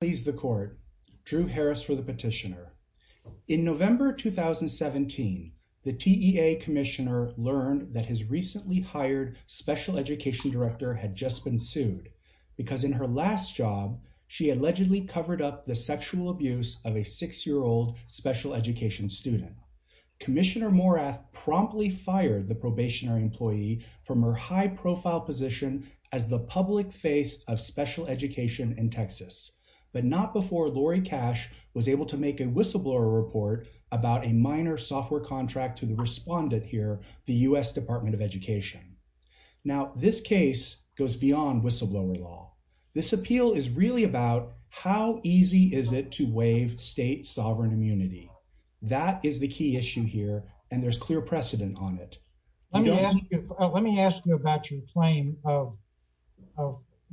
Please the court. Drew Harris for the petitioner. In November 2017, the TEA commissioner learned that his recently hired special education director had just been sued because in her last job she allegedly covered up the sexual abuse of a six-year-old special education student. Commissioner Morath promptly fired the probationary employee from her high-profile position as the not before Lori Cash was able to make a whistleblower report about a minor software contract to the respondent here, the US Department of Education. Now this case goes beyond whistleblower law. This appeal is really about how easy is it to waive state sovereign immunity. That is the key issue here and there's clear precedent on it. Let me ask you about your claim of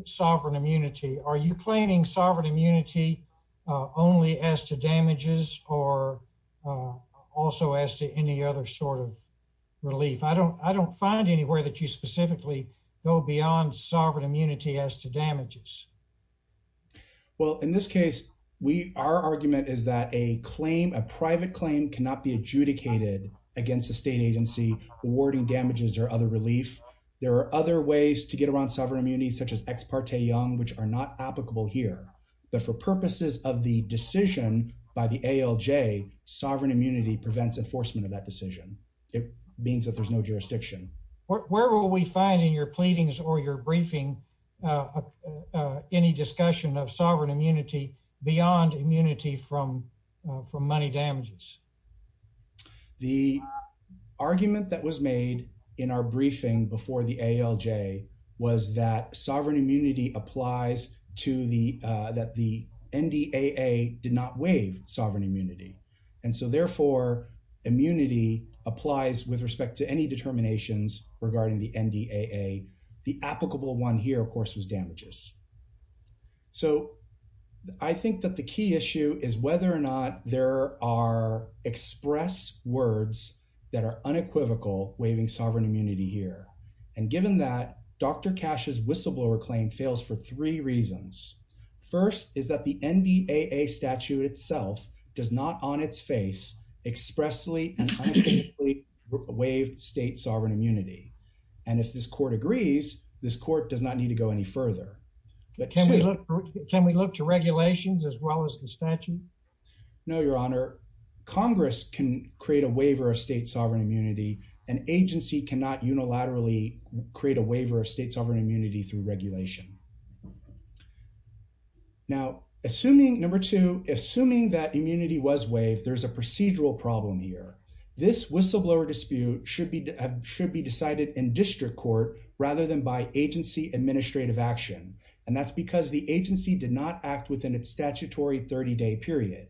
sovereign immunity. Are you claiming sovereign immunity only as to damages or also as to any other sort of relief? I don't I don't find anywhere that you specifically go beyond sovereign immunity as to damages. Well in this case we our argument is that a claim a private claim cannot be adjudicated against the state agency awarding damages or other relief. There are other ways to get around sovereign immunity such as ex parte young which are not applicable here but for purposes of the decision by the ALJ sovereign immunity prevents enforcement of that decision. It means that there's no jurisdiction. Where will we find in your pleadings or your briefing any discussion of sovereign immunity beyond immunity from from money damages? The argument that was made in our briefing before the ALJ was that sovereign immunity applies to the that the NDAA did not waive sovereign immunity and so therefore immunity applies with respect to any determinations regarding the NDAA. The applicable one here of course was damages. So I think that the key issue is whether or not there are express words that are unequivocal waiving sovereign immunity here and given that Dr. Cash's whistleblower claim fails for three reasons. First is that the NDAA statute itself does not on its face expressly and unequivocally waive state sovereign immunity and if this court agrees this court does not need to go any further. But can we look can we look to regulations as well as the statute? No an agency cannot unilaterally create a waiver of state sovereign immunity through regulation. Now assuming number two assuming that immunity was waived there's a procedural problem here. This whistleblower dispute should be should be decided in district court rather than by agency administrative action and that's because the agency did not act within its statutory 30-day period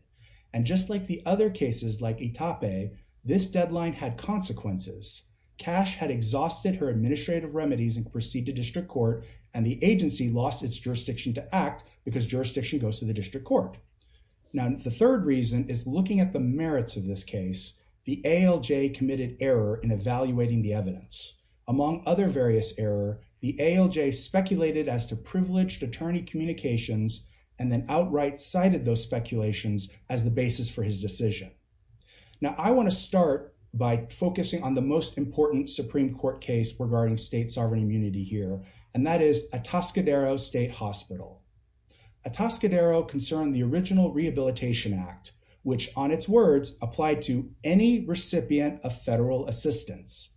and just like the other cases like Itape this deadline had consequences. Cash had exhausted her administrative remedies and proceed to district court and the agency lost its jurisdiction to act because jurisdiction goes to the district court. Now the third reason is looking at the merits of this case. The ALJ committed error in evaluating the evidence. Among other various error the ALJ speculated as to privileged attorney communications and then outright cited those speculations as the basis for his decision. Now I want to start by focusing on the most important Supreme Court case regarding state sovereign immunity here and that is a Atascadero State Hospital. Atascadero concerned the original Rehabilitation Act which on its words applied to any recipient of federal assistance.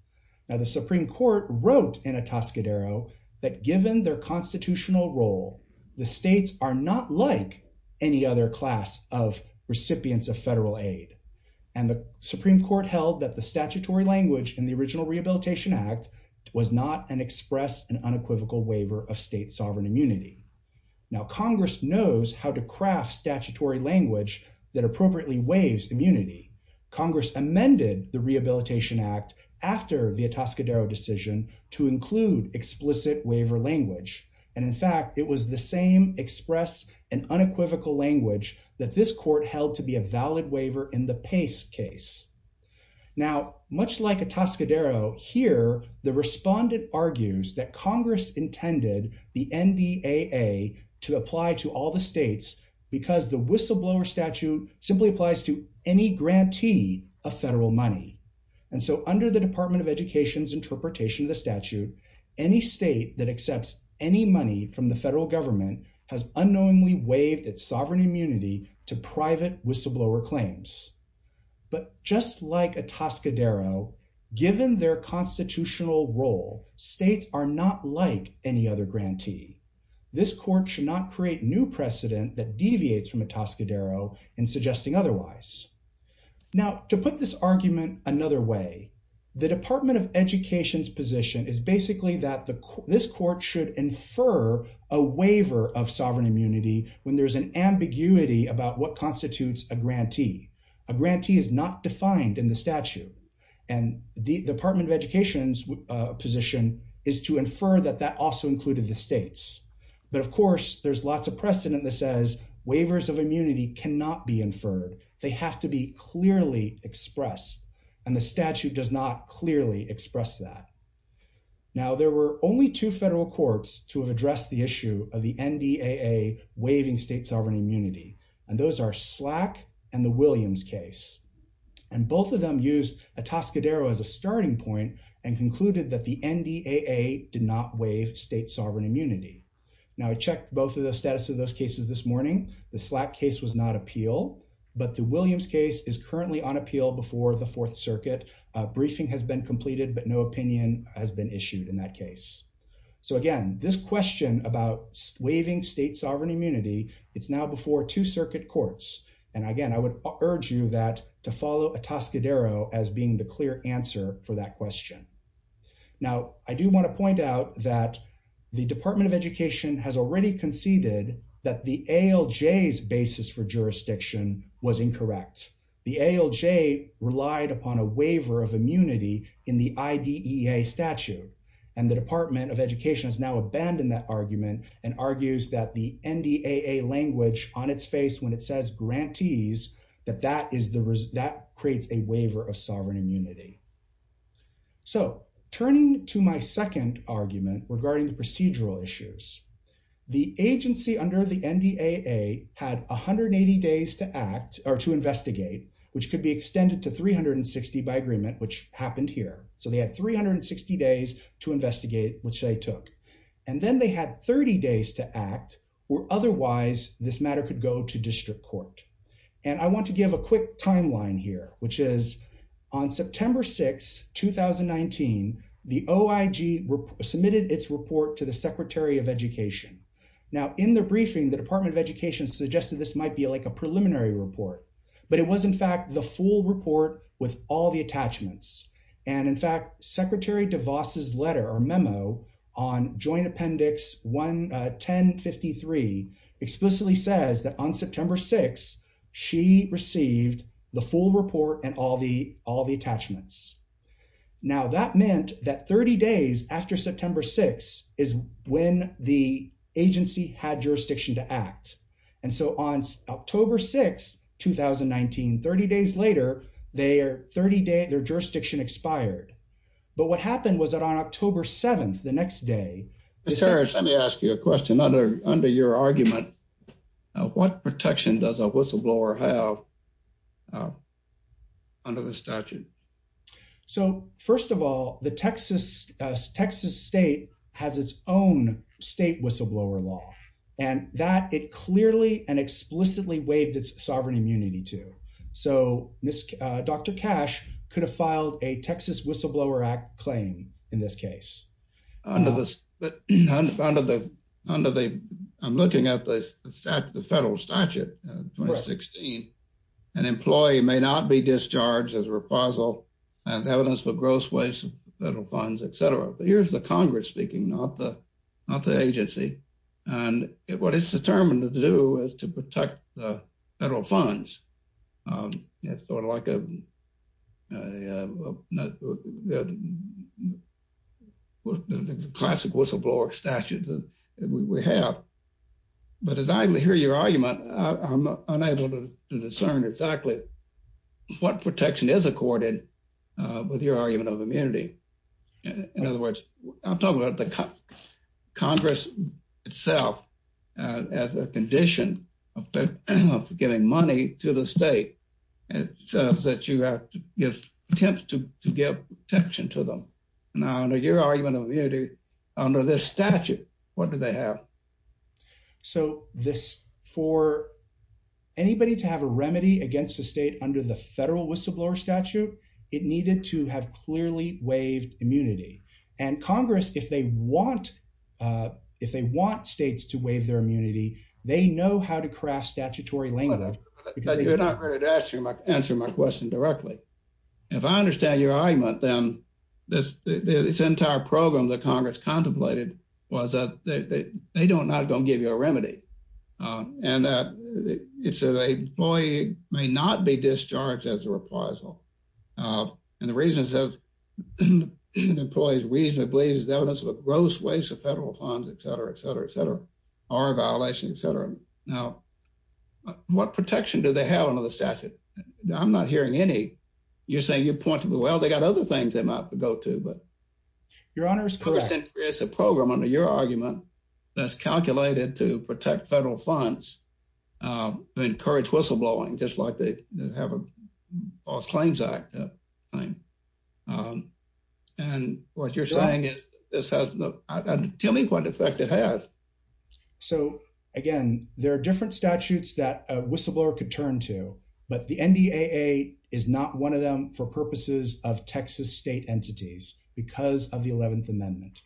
Now the Supreme Court wrote in Atascadero that given their class of recipients of federal aid and the Supreme Court held that the statutory language in the original Rehabilitation Act was not an express and unequivocal waiver of state sovereign immunity. Now Congress knows how to craft statutory language that appropriately waives immunity. Congress amended the Rehabilitation Act after the Atascadero decision to include explicit waiver language and in fact it was the same express and unequivocal language that this court held to be a valid waiver in the Pace case. Now much like Atascadero here the respondent argues that Congress intended the NDAA to apply to all the states because the whistleblower statute simply applies to any grantee of federal money and so under the Department of Education's interpretation of the Atascadero Act any money from the federal government has unknowingly waived its sovereign immunity to private whistleblower claims. But just like Atascadero given their constitutional role states are not like any other grantee. This court should not create new precedent that deviates from Atascadero in suggesting otherwise. Now to put this argument another way the Department of Education's position is basically that the this court should infer a waiver of sovereign immunity when there's an ambiguity about what constitutes a grantee. A grantee is not defined in the statute and the Department of Education's position is to infer that that also included the states but of course there's lots of precedent that says waivers of immunity cannot be expressed that. Now there were only two federal courts to have addressed the issue of the NDAA waiving state sovereign immunity and those are SLAC and the Williams case and both of them used Atascadero as a starting point and concluded that the NDAA did not waive state sovereign immunity. Now I checked both of the status of those cases this morning the SLAC case was not appeal but the Williams case is currently on appeal before the Fourth Circuit. Briefing has been completed but no opinion has been issued in that case. So again this question about waiving state sovereign immunity it's now before two circuit courts and again I would urge you that to follow Atascadero as being the clear answer for that question. Now I do want to point out that the Department of Education has already conceded that the ALJ's basis for jurisdiction was immunity in the IDEA statute and the Department of Education has now abandoned that argument and argues that the NDAA language on its face when it says grantees that that is the result that creates a waiver of sovereign immunity. So turning to my second argument regarding the procedural issues the agency under the NDAA had 180 days to act or to investigate which could be happened here. So they had 360 days to investigate which they took and then they had 30 days to act or otherwise this matter could go to district court. And I want to give a quick timeline here which is on September 6, 2019 the OIG submitted its report to the Secretary of Education. Now in the briefing the Department of Education suggested this might be like a preliminary report but it was in fact the full report with all the attachments and in fact Secretary DeVos's letter or memo on Joint Appendix 1053 explicitly says that on September 6 she received the full report and all the all the attachments. Now that meant that 30 days after September 6 is when the agency had jurisdiction to act and so on October 6, 2019 30 days later their 30-day their jurisdiction expired. But what happened was that on October 7th the next day, let me ask you a question other under your argument what protection does a whistleblower have under the statute? So first of all the Texas Texas state has its own state whistleblower law and that it clearly and explicitly waived its sovereign immunity to. So Dr. Cash could have filed a Texas Whistleblower Act claim in this case. Under the I'm looking at the federal statute 2016 an employee may not be discharged as a reposal and evidence for gross waste of federal funds etc. But here's the Congress speaking not the not the agency and what it's determined to do is to protect the federal funds. It's sort of like a classic whistleblower statute that we have. But as I hear your argument I'm unable to discern exactly what protection is accorded with your argument of immunity. In other words I'm talking about the Congress itself as a condition of giving money to the state. It says that you have to give attempts to give protection to them. Now under your argument of immunity under this statute what do they have? So this for anybody to have a remedy against the under the federal whistleblower statute it needed to have clearly waived immunity. And Congress if they want if they want states to waive their immunity they know how to craft statutory language. You're not ready to answer my question directly. If I understand your argument then this entire program that Congress contemplated was that they don't not going to give you a remedy. And that it's a boy may not be discharged as a replacement. And the reason says employees reasonably believes the evidence of a gross waste of federal funds etc. etc. etc. are a violation etc. Now what protection do they have under the statute? I'm not hearing any. You're saying you pointed well they got other things they might have to go to. But your honor it's a program under your argument that's calculated to protect federal funds to encourage whistleblowing just like they have a false claims act. And what you're saying is this has no tell me what effect it has. So again there are different statutes that a whistleblower could turn to but the NDAA is not one of them for purposes of Texas state entities because of the 11th amendment.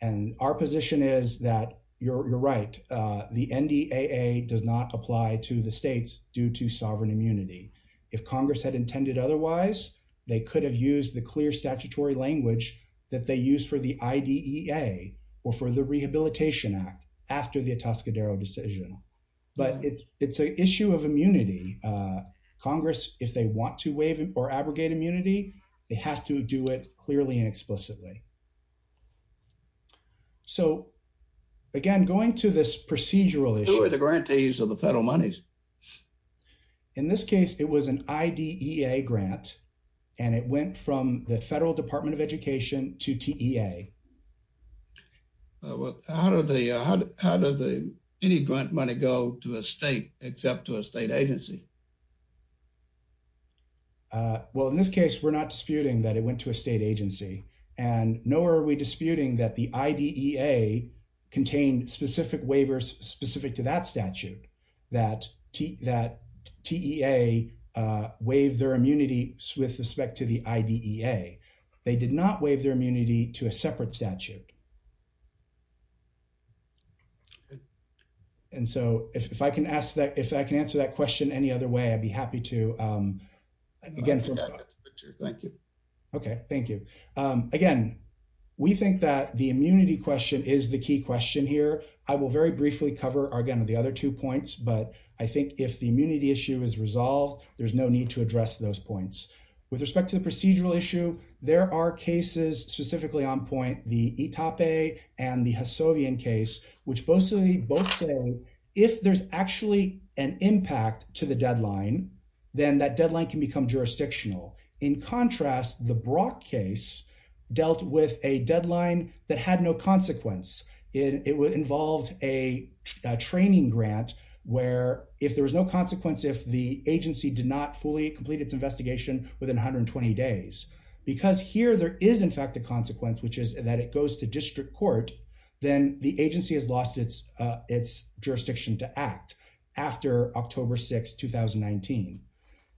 And our position is that you're right the NDAA does not apply to the states due to sovereign immunity. If Congress had intended otherwise they could have used the clear statutory language that they use for the IDEA or for the Rehabilitation Act after the Atascadero decision. But it's it's an issue of immunity. Congress if they want to waive or abrogate immunity they have to do it clearly and explicitly. So again going to this procedural issue. The grantees of the federal monies. In this case it was an IDEA grant and it went from the Federal Department of Education to TEA. Well how does any grant money go to a state except to a state agency? Well in this case we're not disputing that it went to a state agency and nor are we disputing that the IDEA contained specific waivers specific to that statute that TEA waived their immunity with respect to the IDEA. They did not waive their immunity to a separate statute. And so if I can ask that if I can answer that question any other way I'd be happy to. Okay thank you. Again we think that the I will very briefly cover again of the other two points but I think if the immunity issue is resolved there's no need to address those points. With respect to the procedural issue there are cases specifically on point the Itape and the Hassovian case which both say if there's actually an impact to the deadline then that deadline can become jurisdictional. In it involved a training grant where if there was no consequence if the agency did not fully complete its investigation within 120 days because here there is in fact a consequence which is that it goes to district court then the agency has lost its its jurisdiction to act after October 6, 2019.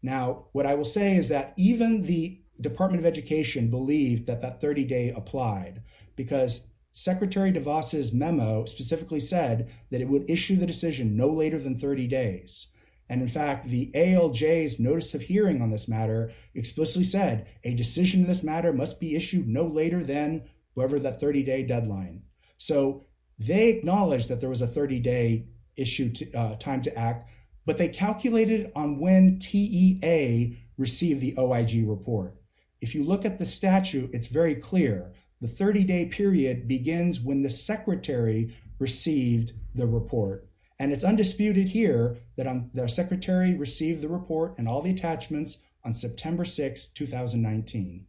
Now what I will say is that even the Department of Education believed that that 30-day applied because Secretary DeVos's memo specifically said that it would issue the decision no later than 30 days and in fact the ALJ's notice of hearing on this matter explicitly said a decision in this matter must be issued no later than whoever that 30-day deadline. So they acknowledge that there was a 30-day issue time to act but they calculated on when TEA received the OIG report. If you look at the statute it's very clear the 30-day period begins when the secretary received the report and it's undisputed here that I'm their secretary received the report and all the attachments on September 6, 2019.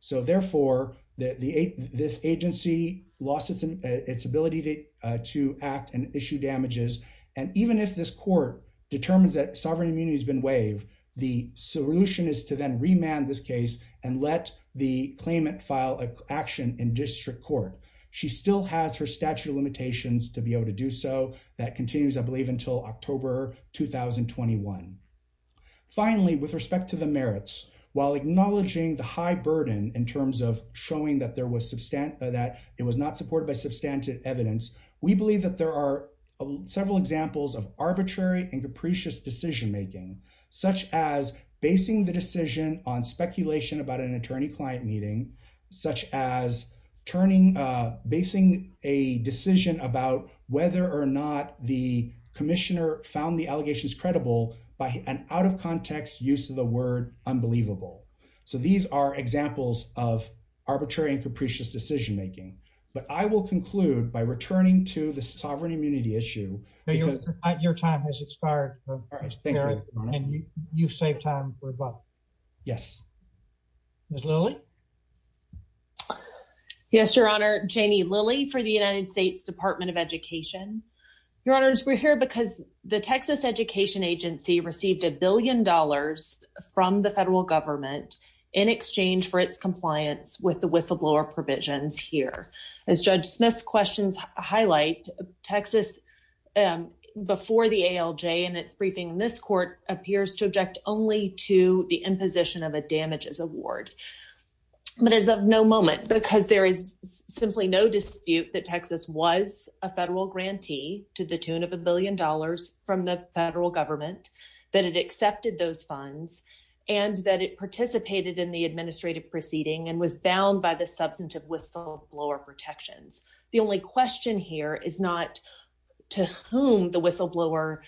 So therefore that the this agency lost its ability to act and issue damages and even if this court determines that sovereign immunity has been waived the solution is to then remand this case and let the claimant file an action in district court. She still has her statute of limitations to be able to do so that continues I believe until October 2021. Finally with respect to the merits while acknowledging the high burden in terms of showing that there was substantive that it was not supported by substantive evidence we believe that there are several examples of arbitrary and capricious decision-making such as basing the decision on speculation about an attorney-client meeting such as turning basing a decision about whether or not the Commissioner found the allegations credible by an out-of-context use of the word unbelievable. So these are examples of arbitrary and capricious decision-making but I will conclude by your time has expired and you saved time for a vote. Yes. Ms. Lilly. Yes, Your Honor. Janie Lilly for the United States Department of Education. Your Honors we're here because the Texas Education Agency received a billion dollars from the federal government in exchange for its compliance with the whistleblower provisions here. As Judge Smith's questions highlight Texas before the ALJ and its briefing in this court appears to object only to the imposition of a damages award but as of no moment because there is simply no dispute that Texas was a federal grantee to the tune of a billion dollars from the federal government that it accepted those funds and that it participated in the whistleblower protections. The only question here is not to whom the whistleblower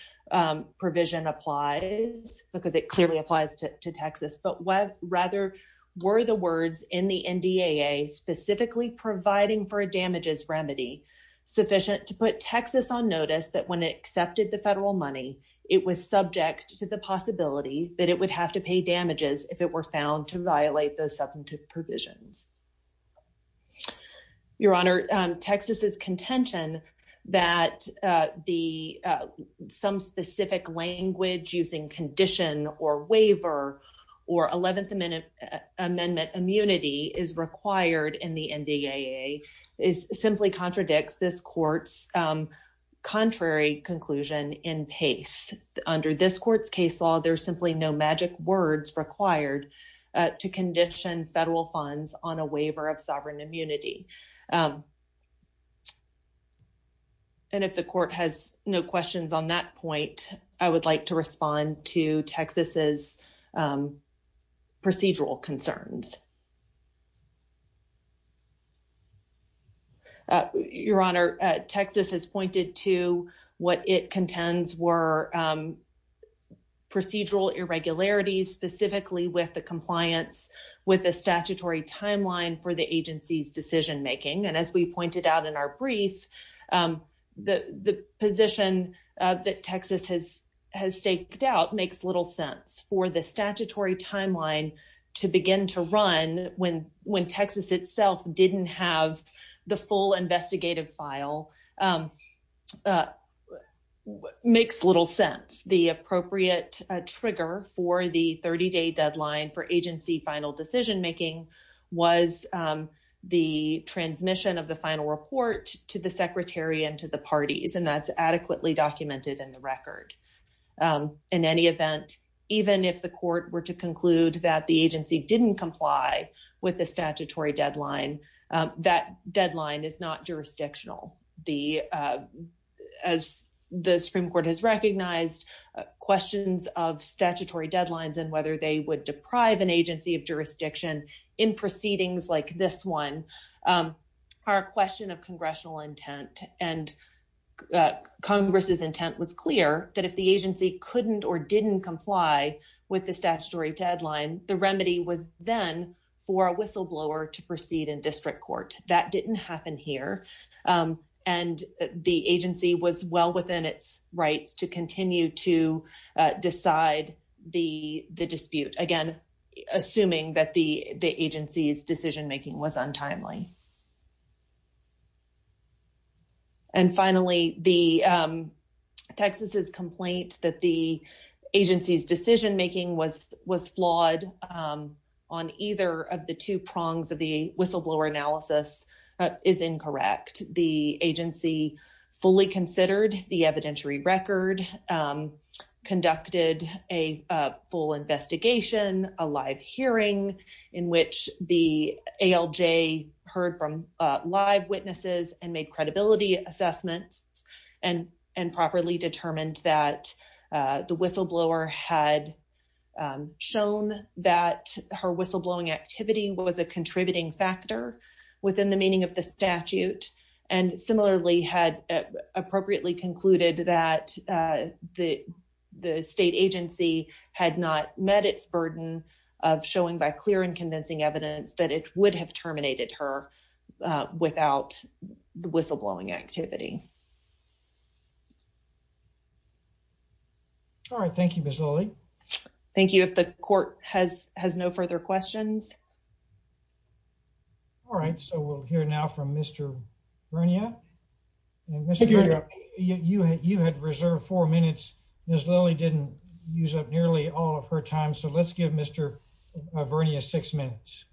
provision applies because it clearly applies to Texas but what rather were the words in the NDAA specifically providing for a damages remedy sufficient to put Texas on notice that when it accepted the federal money it was subject to the possibility that it would have to pay damages if it were found to violate those substantive provisions. Your Honor, Texas is contention that the some specific language using condition or waiver or 11th Amendment immunity is required in the NDAA is simply contradicts this court's contrary conclusion in pace. Under this court's case law, there's simply no magic words required to condition federal funds on a waiver of sovereign immunity. And if the court has no questions on that point, I would like to respond to Texas's procedural concerns. Your Honor, Texas has pointed to what it contends were procedural irregularities, specifically with the compliance with the statutory timeline for the agency's decision making. And as we pointed out in our brief, the position that Texas has has staked out makes little sense for the statutory deadline for agency final decision making was the transmission of the final report to the secretary and to the parties. And that's adequately documented in the record. In any event, even if the court were to conclude that the agency didn't comply with the statutory deadline, that deadline is not jurisdictional. The as the Supreme Court has recognized questions of statutory deadlines and whether they would deprive an agency of jurisdiction in proceedings like this one are a question of congressional intent. And Congress's intent was clear that if the agency couldn't or didn't comply with the statutory deadline, the remedy was then for a whistleblower to proceed in district court. That didn't happen here. And the agency was well within its rights to continue to decide the dispute. Again, assuming that the agency's decision making was untimely. And finally, the Texas's complaint that the agency's decision making was was flawed on either of the two prongs of the whistleblower analysis is incorrect. The agency fully considered the evidentiary record, conducted a full investigation, a live hearing in which the ALJ heard from live witnesses and made credibility assessments and and properly determined that the whistleblower had shown that her whistleblowing activity was a contributing factor within the meaning of the statute and similarly had appropriately concluded that the state agency had not met its burden of showing by clear and convincing evidence that it would have terminated her without the whistleblowing activity. All right. Thank you, Miss Lily. Thank you. If the court has has no further questions. All right. So we'll hear now from Mr. Vernia. You had reserved four minutes. Miss Lily didn't use up nearly all of her time. So let's give Mr. Vernia six minutes.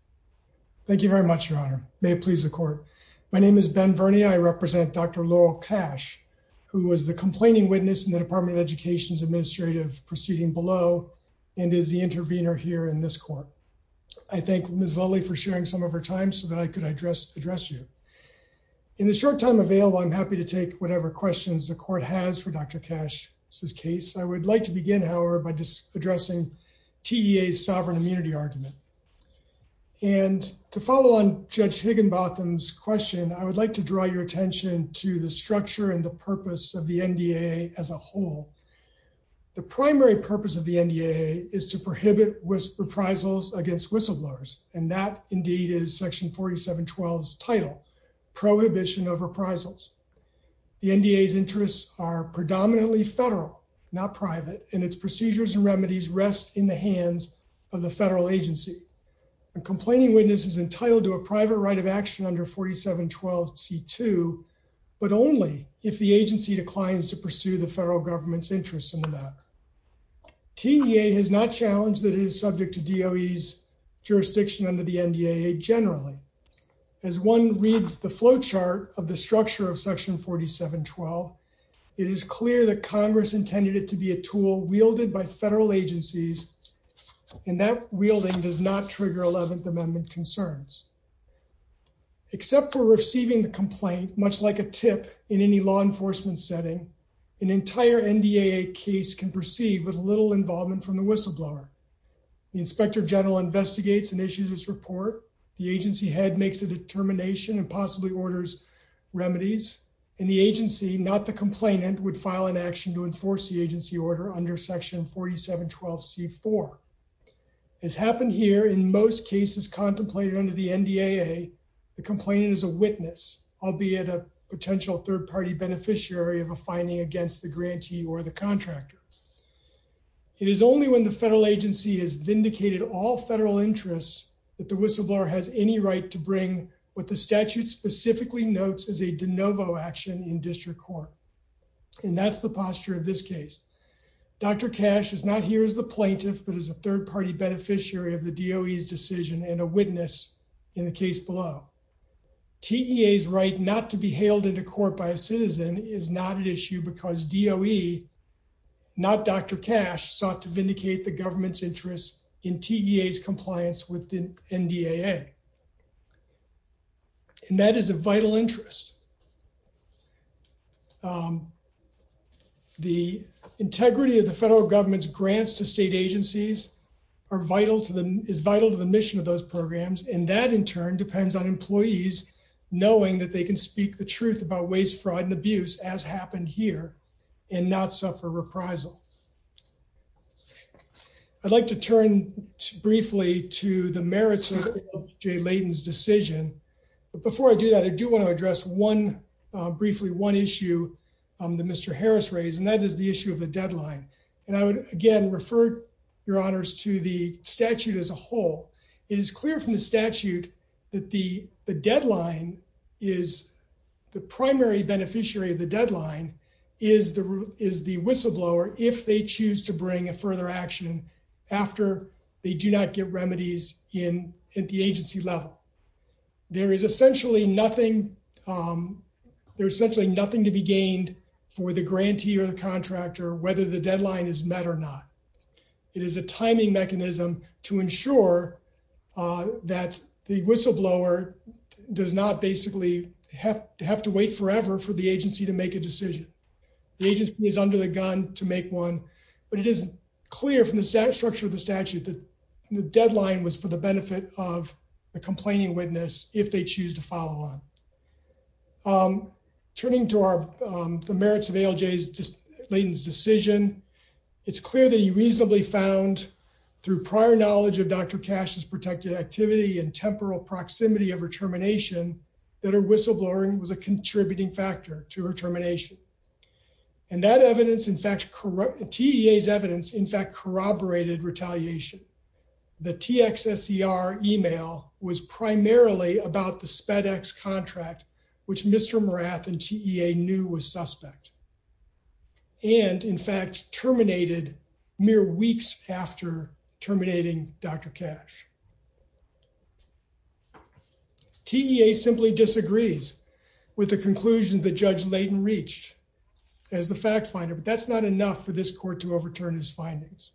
Thank you very much, Your Honor. May it please the court. My name is Ben Vernia. I represent Dr. Laurel Cash, who was the complaining witness in the Department of Education's administrative proceeding below and is the intervener here in this court. I thank Miss Lily for sharing some of her time so that I could address address you. In the short time available, I'm happy to take whatever questions the court has for Dr. Cash's case. I would like to begin, however, by addressing TEA's sovereign immunity argument. And to follow on Judge Higginbotham's question, I would like to draw your attention to the structure and the purpose of the NDA as a whole. The primary purpose of the NDA is to prohibit reprisals against whistleblowers. And that, indeed, is Section 4712's title, Prohibition of Reprisals. The NDA's interests are predominantly federal, not private, and its procedures and remedies rest in the hands of the federal agency. A complaining witness is entitled to a private right of action under 4712C2, but only if the agency declines to pursue the federal government's interests in the matter. TEA has not challenged that it is subject to DOE's jurisdiction under the NDA generally. As one reads the flowchart of the structure of Section 4712, it is clear that Congress intended it to be a tool wielded by federal agencies, and that wielding does not trigger 11th Amendment concerns. Except for receiving the complaint, much like a tip in any law enforcement setting, an entire NDAA case can proceed with little involvement from the whistleblower. The Inspector General investigates and issues its report. The agency head makes a determination and possibly orders remedies. And the agency, not the complainant, would file an action to enforce the agency order under Section 4712C4. As happened here, in most cases contemplated under the NDAA, the complainant is a witness, albeit a potential third-party beneficiary of a finding against the grantee or the contractor. It is only when the federal agency has vindicated all federal interests that the whistleblower has any right to bring what the statute specifically notes as a de novo action in district court. And that's the posture of this case. Dr. Cash is not here as the plaintiff, but as a third-party beneficiary of the DOE's decision and a witness in the case below. TEA's right not to be hailed into court by a citizen is not an issue because DOE, not Dr. Cash, sought to vindicate the government's interest in TEA's compliance with the NDAA. And that is a vital interest. The integrity of the federal government's grants to state agencies is vital to the mission of those programs, and that, in turn, depends on employees knowing that they can speak the truth about waste, fraud, and abuse, as happened here, and not suffer reprisal. I'd like to turn briefly to the merits of J. Layden's decision. But before I do that, I do want to address briefly one issue that Mr. Harris raised, and that is the issue of the deadline. And I would again refer your honors to the statute as a whole. It is clear from the statute that the deadline is, the primary beneficiary of the deadline is the whistleblower, if they choose to bring a further action after they do not get remedies at the agency level. There is essentially nothing, there's essentially nothing to be gained for the grantee or the contractor, whether the deadline is met or not. It is a timing mechanism to ensure that the whistleblower does not basically have to wait forever for the agency to make a decision. The agency is under the gun to make one, but it is clear from the structure of the statute that the deadline was for the benefit of the complaining witness, if they choose to follow on. Turning to the merits of ALJ Layden's decision, it's clear that he reasonably found through prior knowledge of Dr. Cash's protected activity and temporal proximity of her termination, that her whistleblowing was a contributing factor to her termination. And that evidence, in fact, TEA's evidence, in fact, corroborated retaliation. The TXSER email was primarily about the SpedEx contract, which Mr. Morath and TEA knew was suspect. And, in fact, terminated mere weeks after terminating Dr. Cash. TEA simply disagrees with the conclusion that Judge Layden reached as the fact finder, but that's not enough for this court to overturn his findings.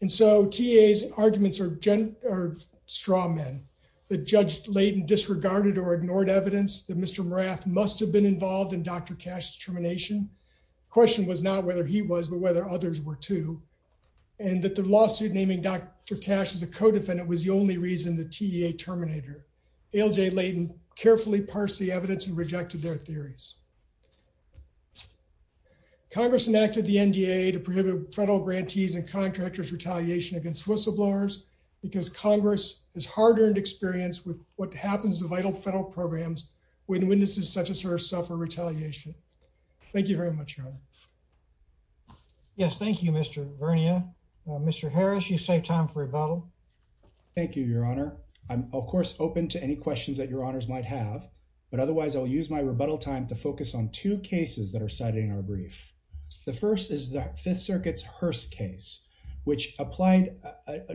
And so TEA's arguments are straw men, that Judge Layden disregarded or ignored evidence that Mr. Morath must have been involved in Dr. Cash's termination. The question was not whether he was, but whether others were too. And that the lawsuit naming Dr. Cash as a co-defendant was the only reason the TEA terminated her. ALJ Layden carefully parsed the evidence and rejected their theories. Congress enacted the NDA to prohibit federal grantees and contractors retaliation against whistleblowers because Congress has hard-earned experience with what happens to vital federal programs when witnesses such as her suffer retaliation. Thank you very much, Your Honor. Yes, thank you, Mr. Vernia. Mr. Harris, you save time for rebuttal. Thank you, Your Honor. I'm, of course, open to any questions that your The first is the Fifth Circuit's Hearst case, which applied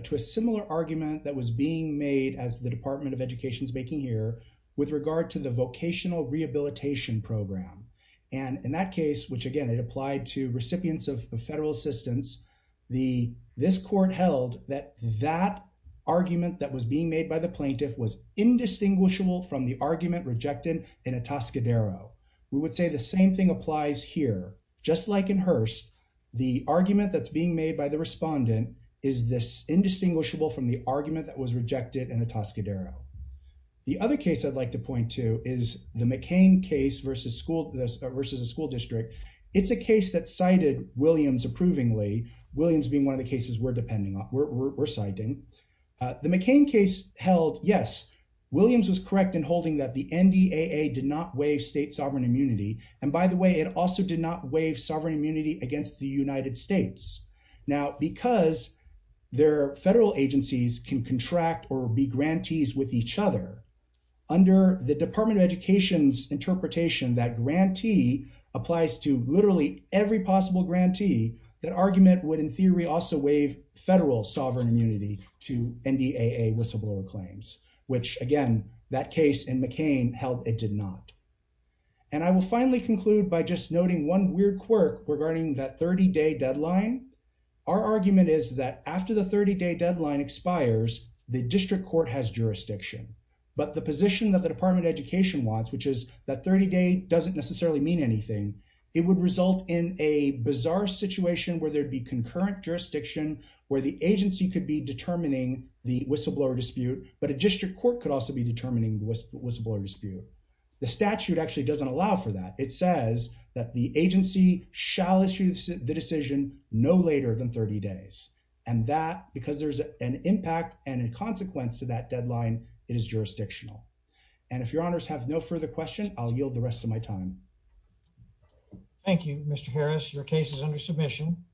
to a similar argument that was being made as the Department of Education's making here with regard to the vocational rehabilitation program. And in that case, which again, it applied to recipients of federal assistance, this court held that that argument that was being made by the plaintiff was We would say the same thing applies here. Just like in Hearst, the argument that's being made by the respondent is this indistinguishable from the argument that was rejected in Atascadero. The other case I'd like to point to is the McCain case versus school versus a school district. It's a case that cited Williams approvingly, Williams being one of the cases we're depending on, we're citing. The McCain case held, yes, Williams was correct in holding that the NDAA did not waive state sovereign immunity. And by the way, it also did not waive sovereign immunity against the United States. Now, because their federal agencies can contract or be grantees with each other, under the Department of Education's interpretation that grantee applies to literally every possible grantee, that argument would in theory also waive federal sovereign immunity to NDAA whistleblower claims, which again, that case in McCain held it did not. And I will finally conclude by just noting one weird quirk regarding that 30-day deadline. Our argument is that after the 30-day deadline expires, the district court has jurisdiction. But the position that the Department of Education wants, which is that 30-day doesn't necessarily mean anything, it would result in a bizarre situation where there'd be concurrent jurisdiction where the agency could be determining the whistleblower dispute, but a district court could also be determining the whistleblower dispute. The statute actually doesn't allow for that. It says that the agency shall issue the decision no later than 30 days. And that because there's an impact and a consequence to that deadline, it is jurisdictional. And if your honors have no further question, I'll yield the rest of my time. Thank you, Mr. Harris. Your case is under submission.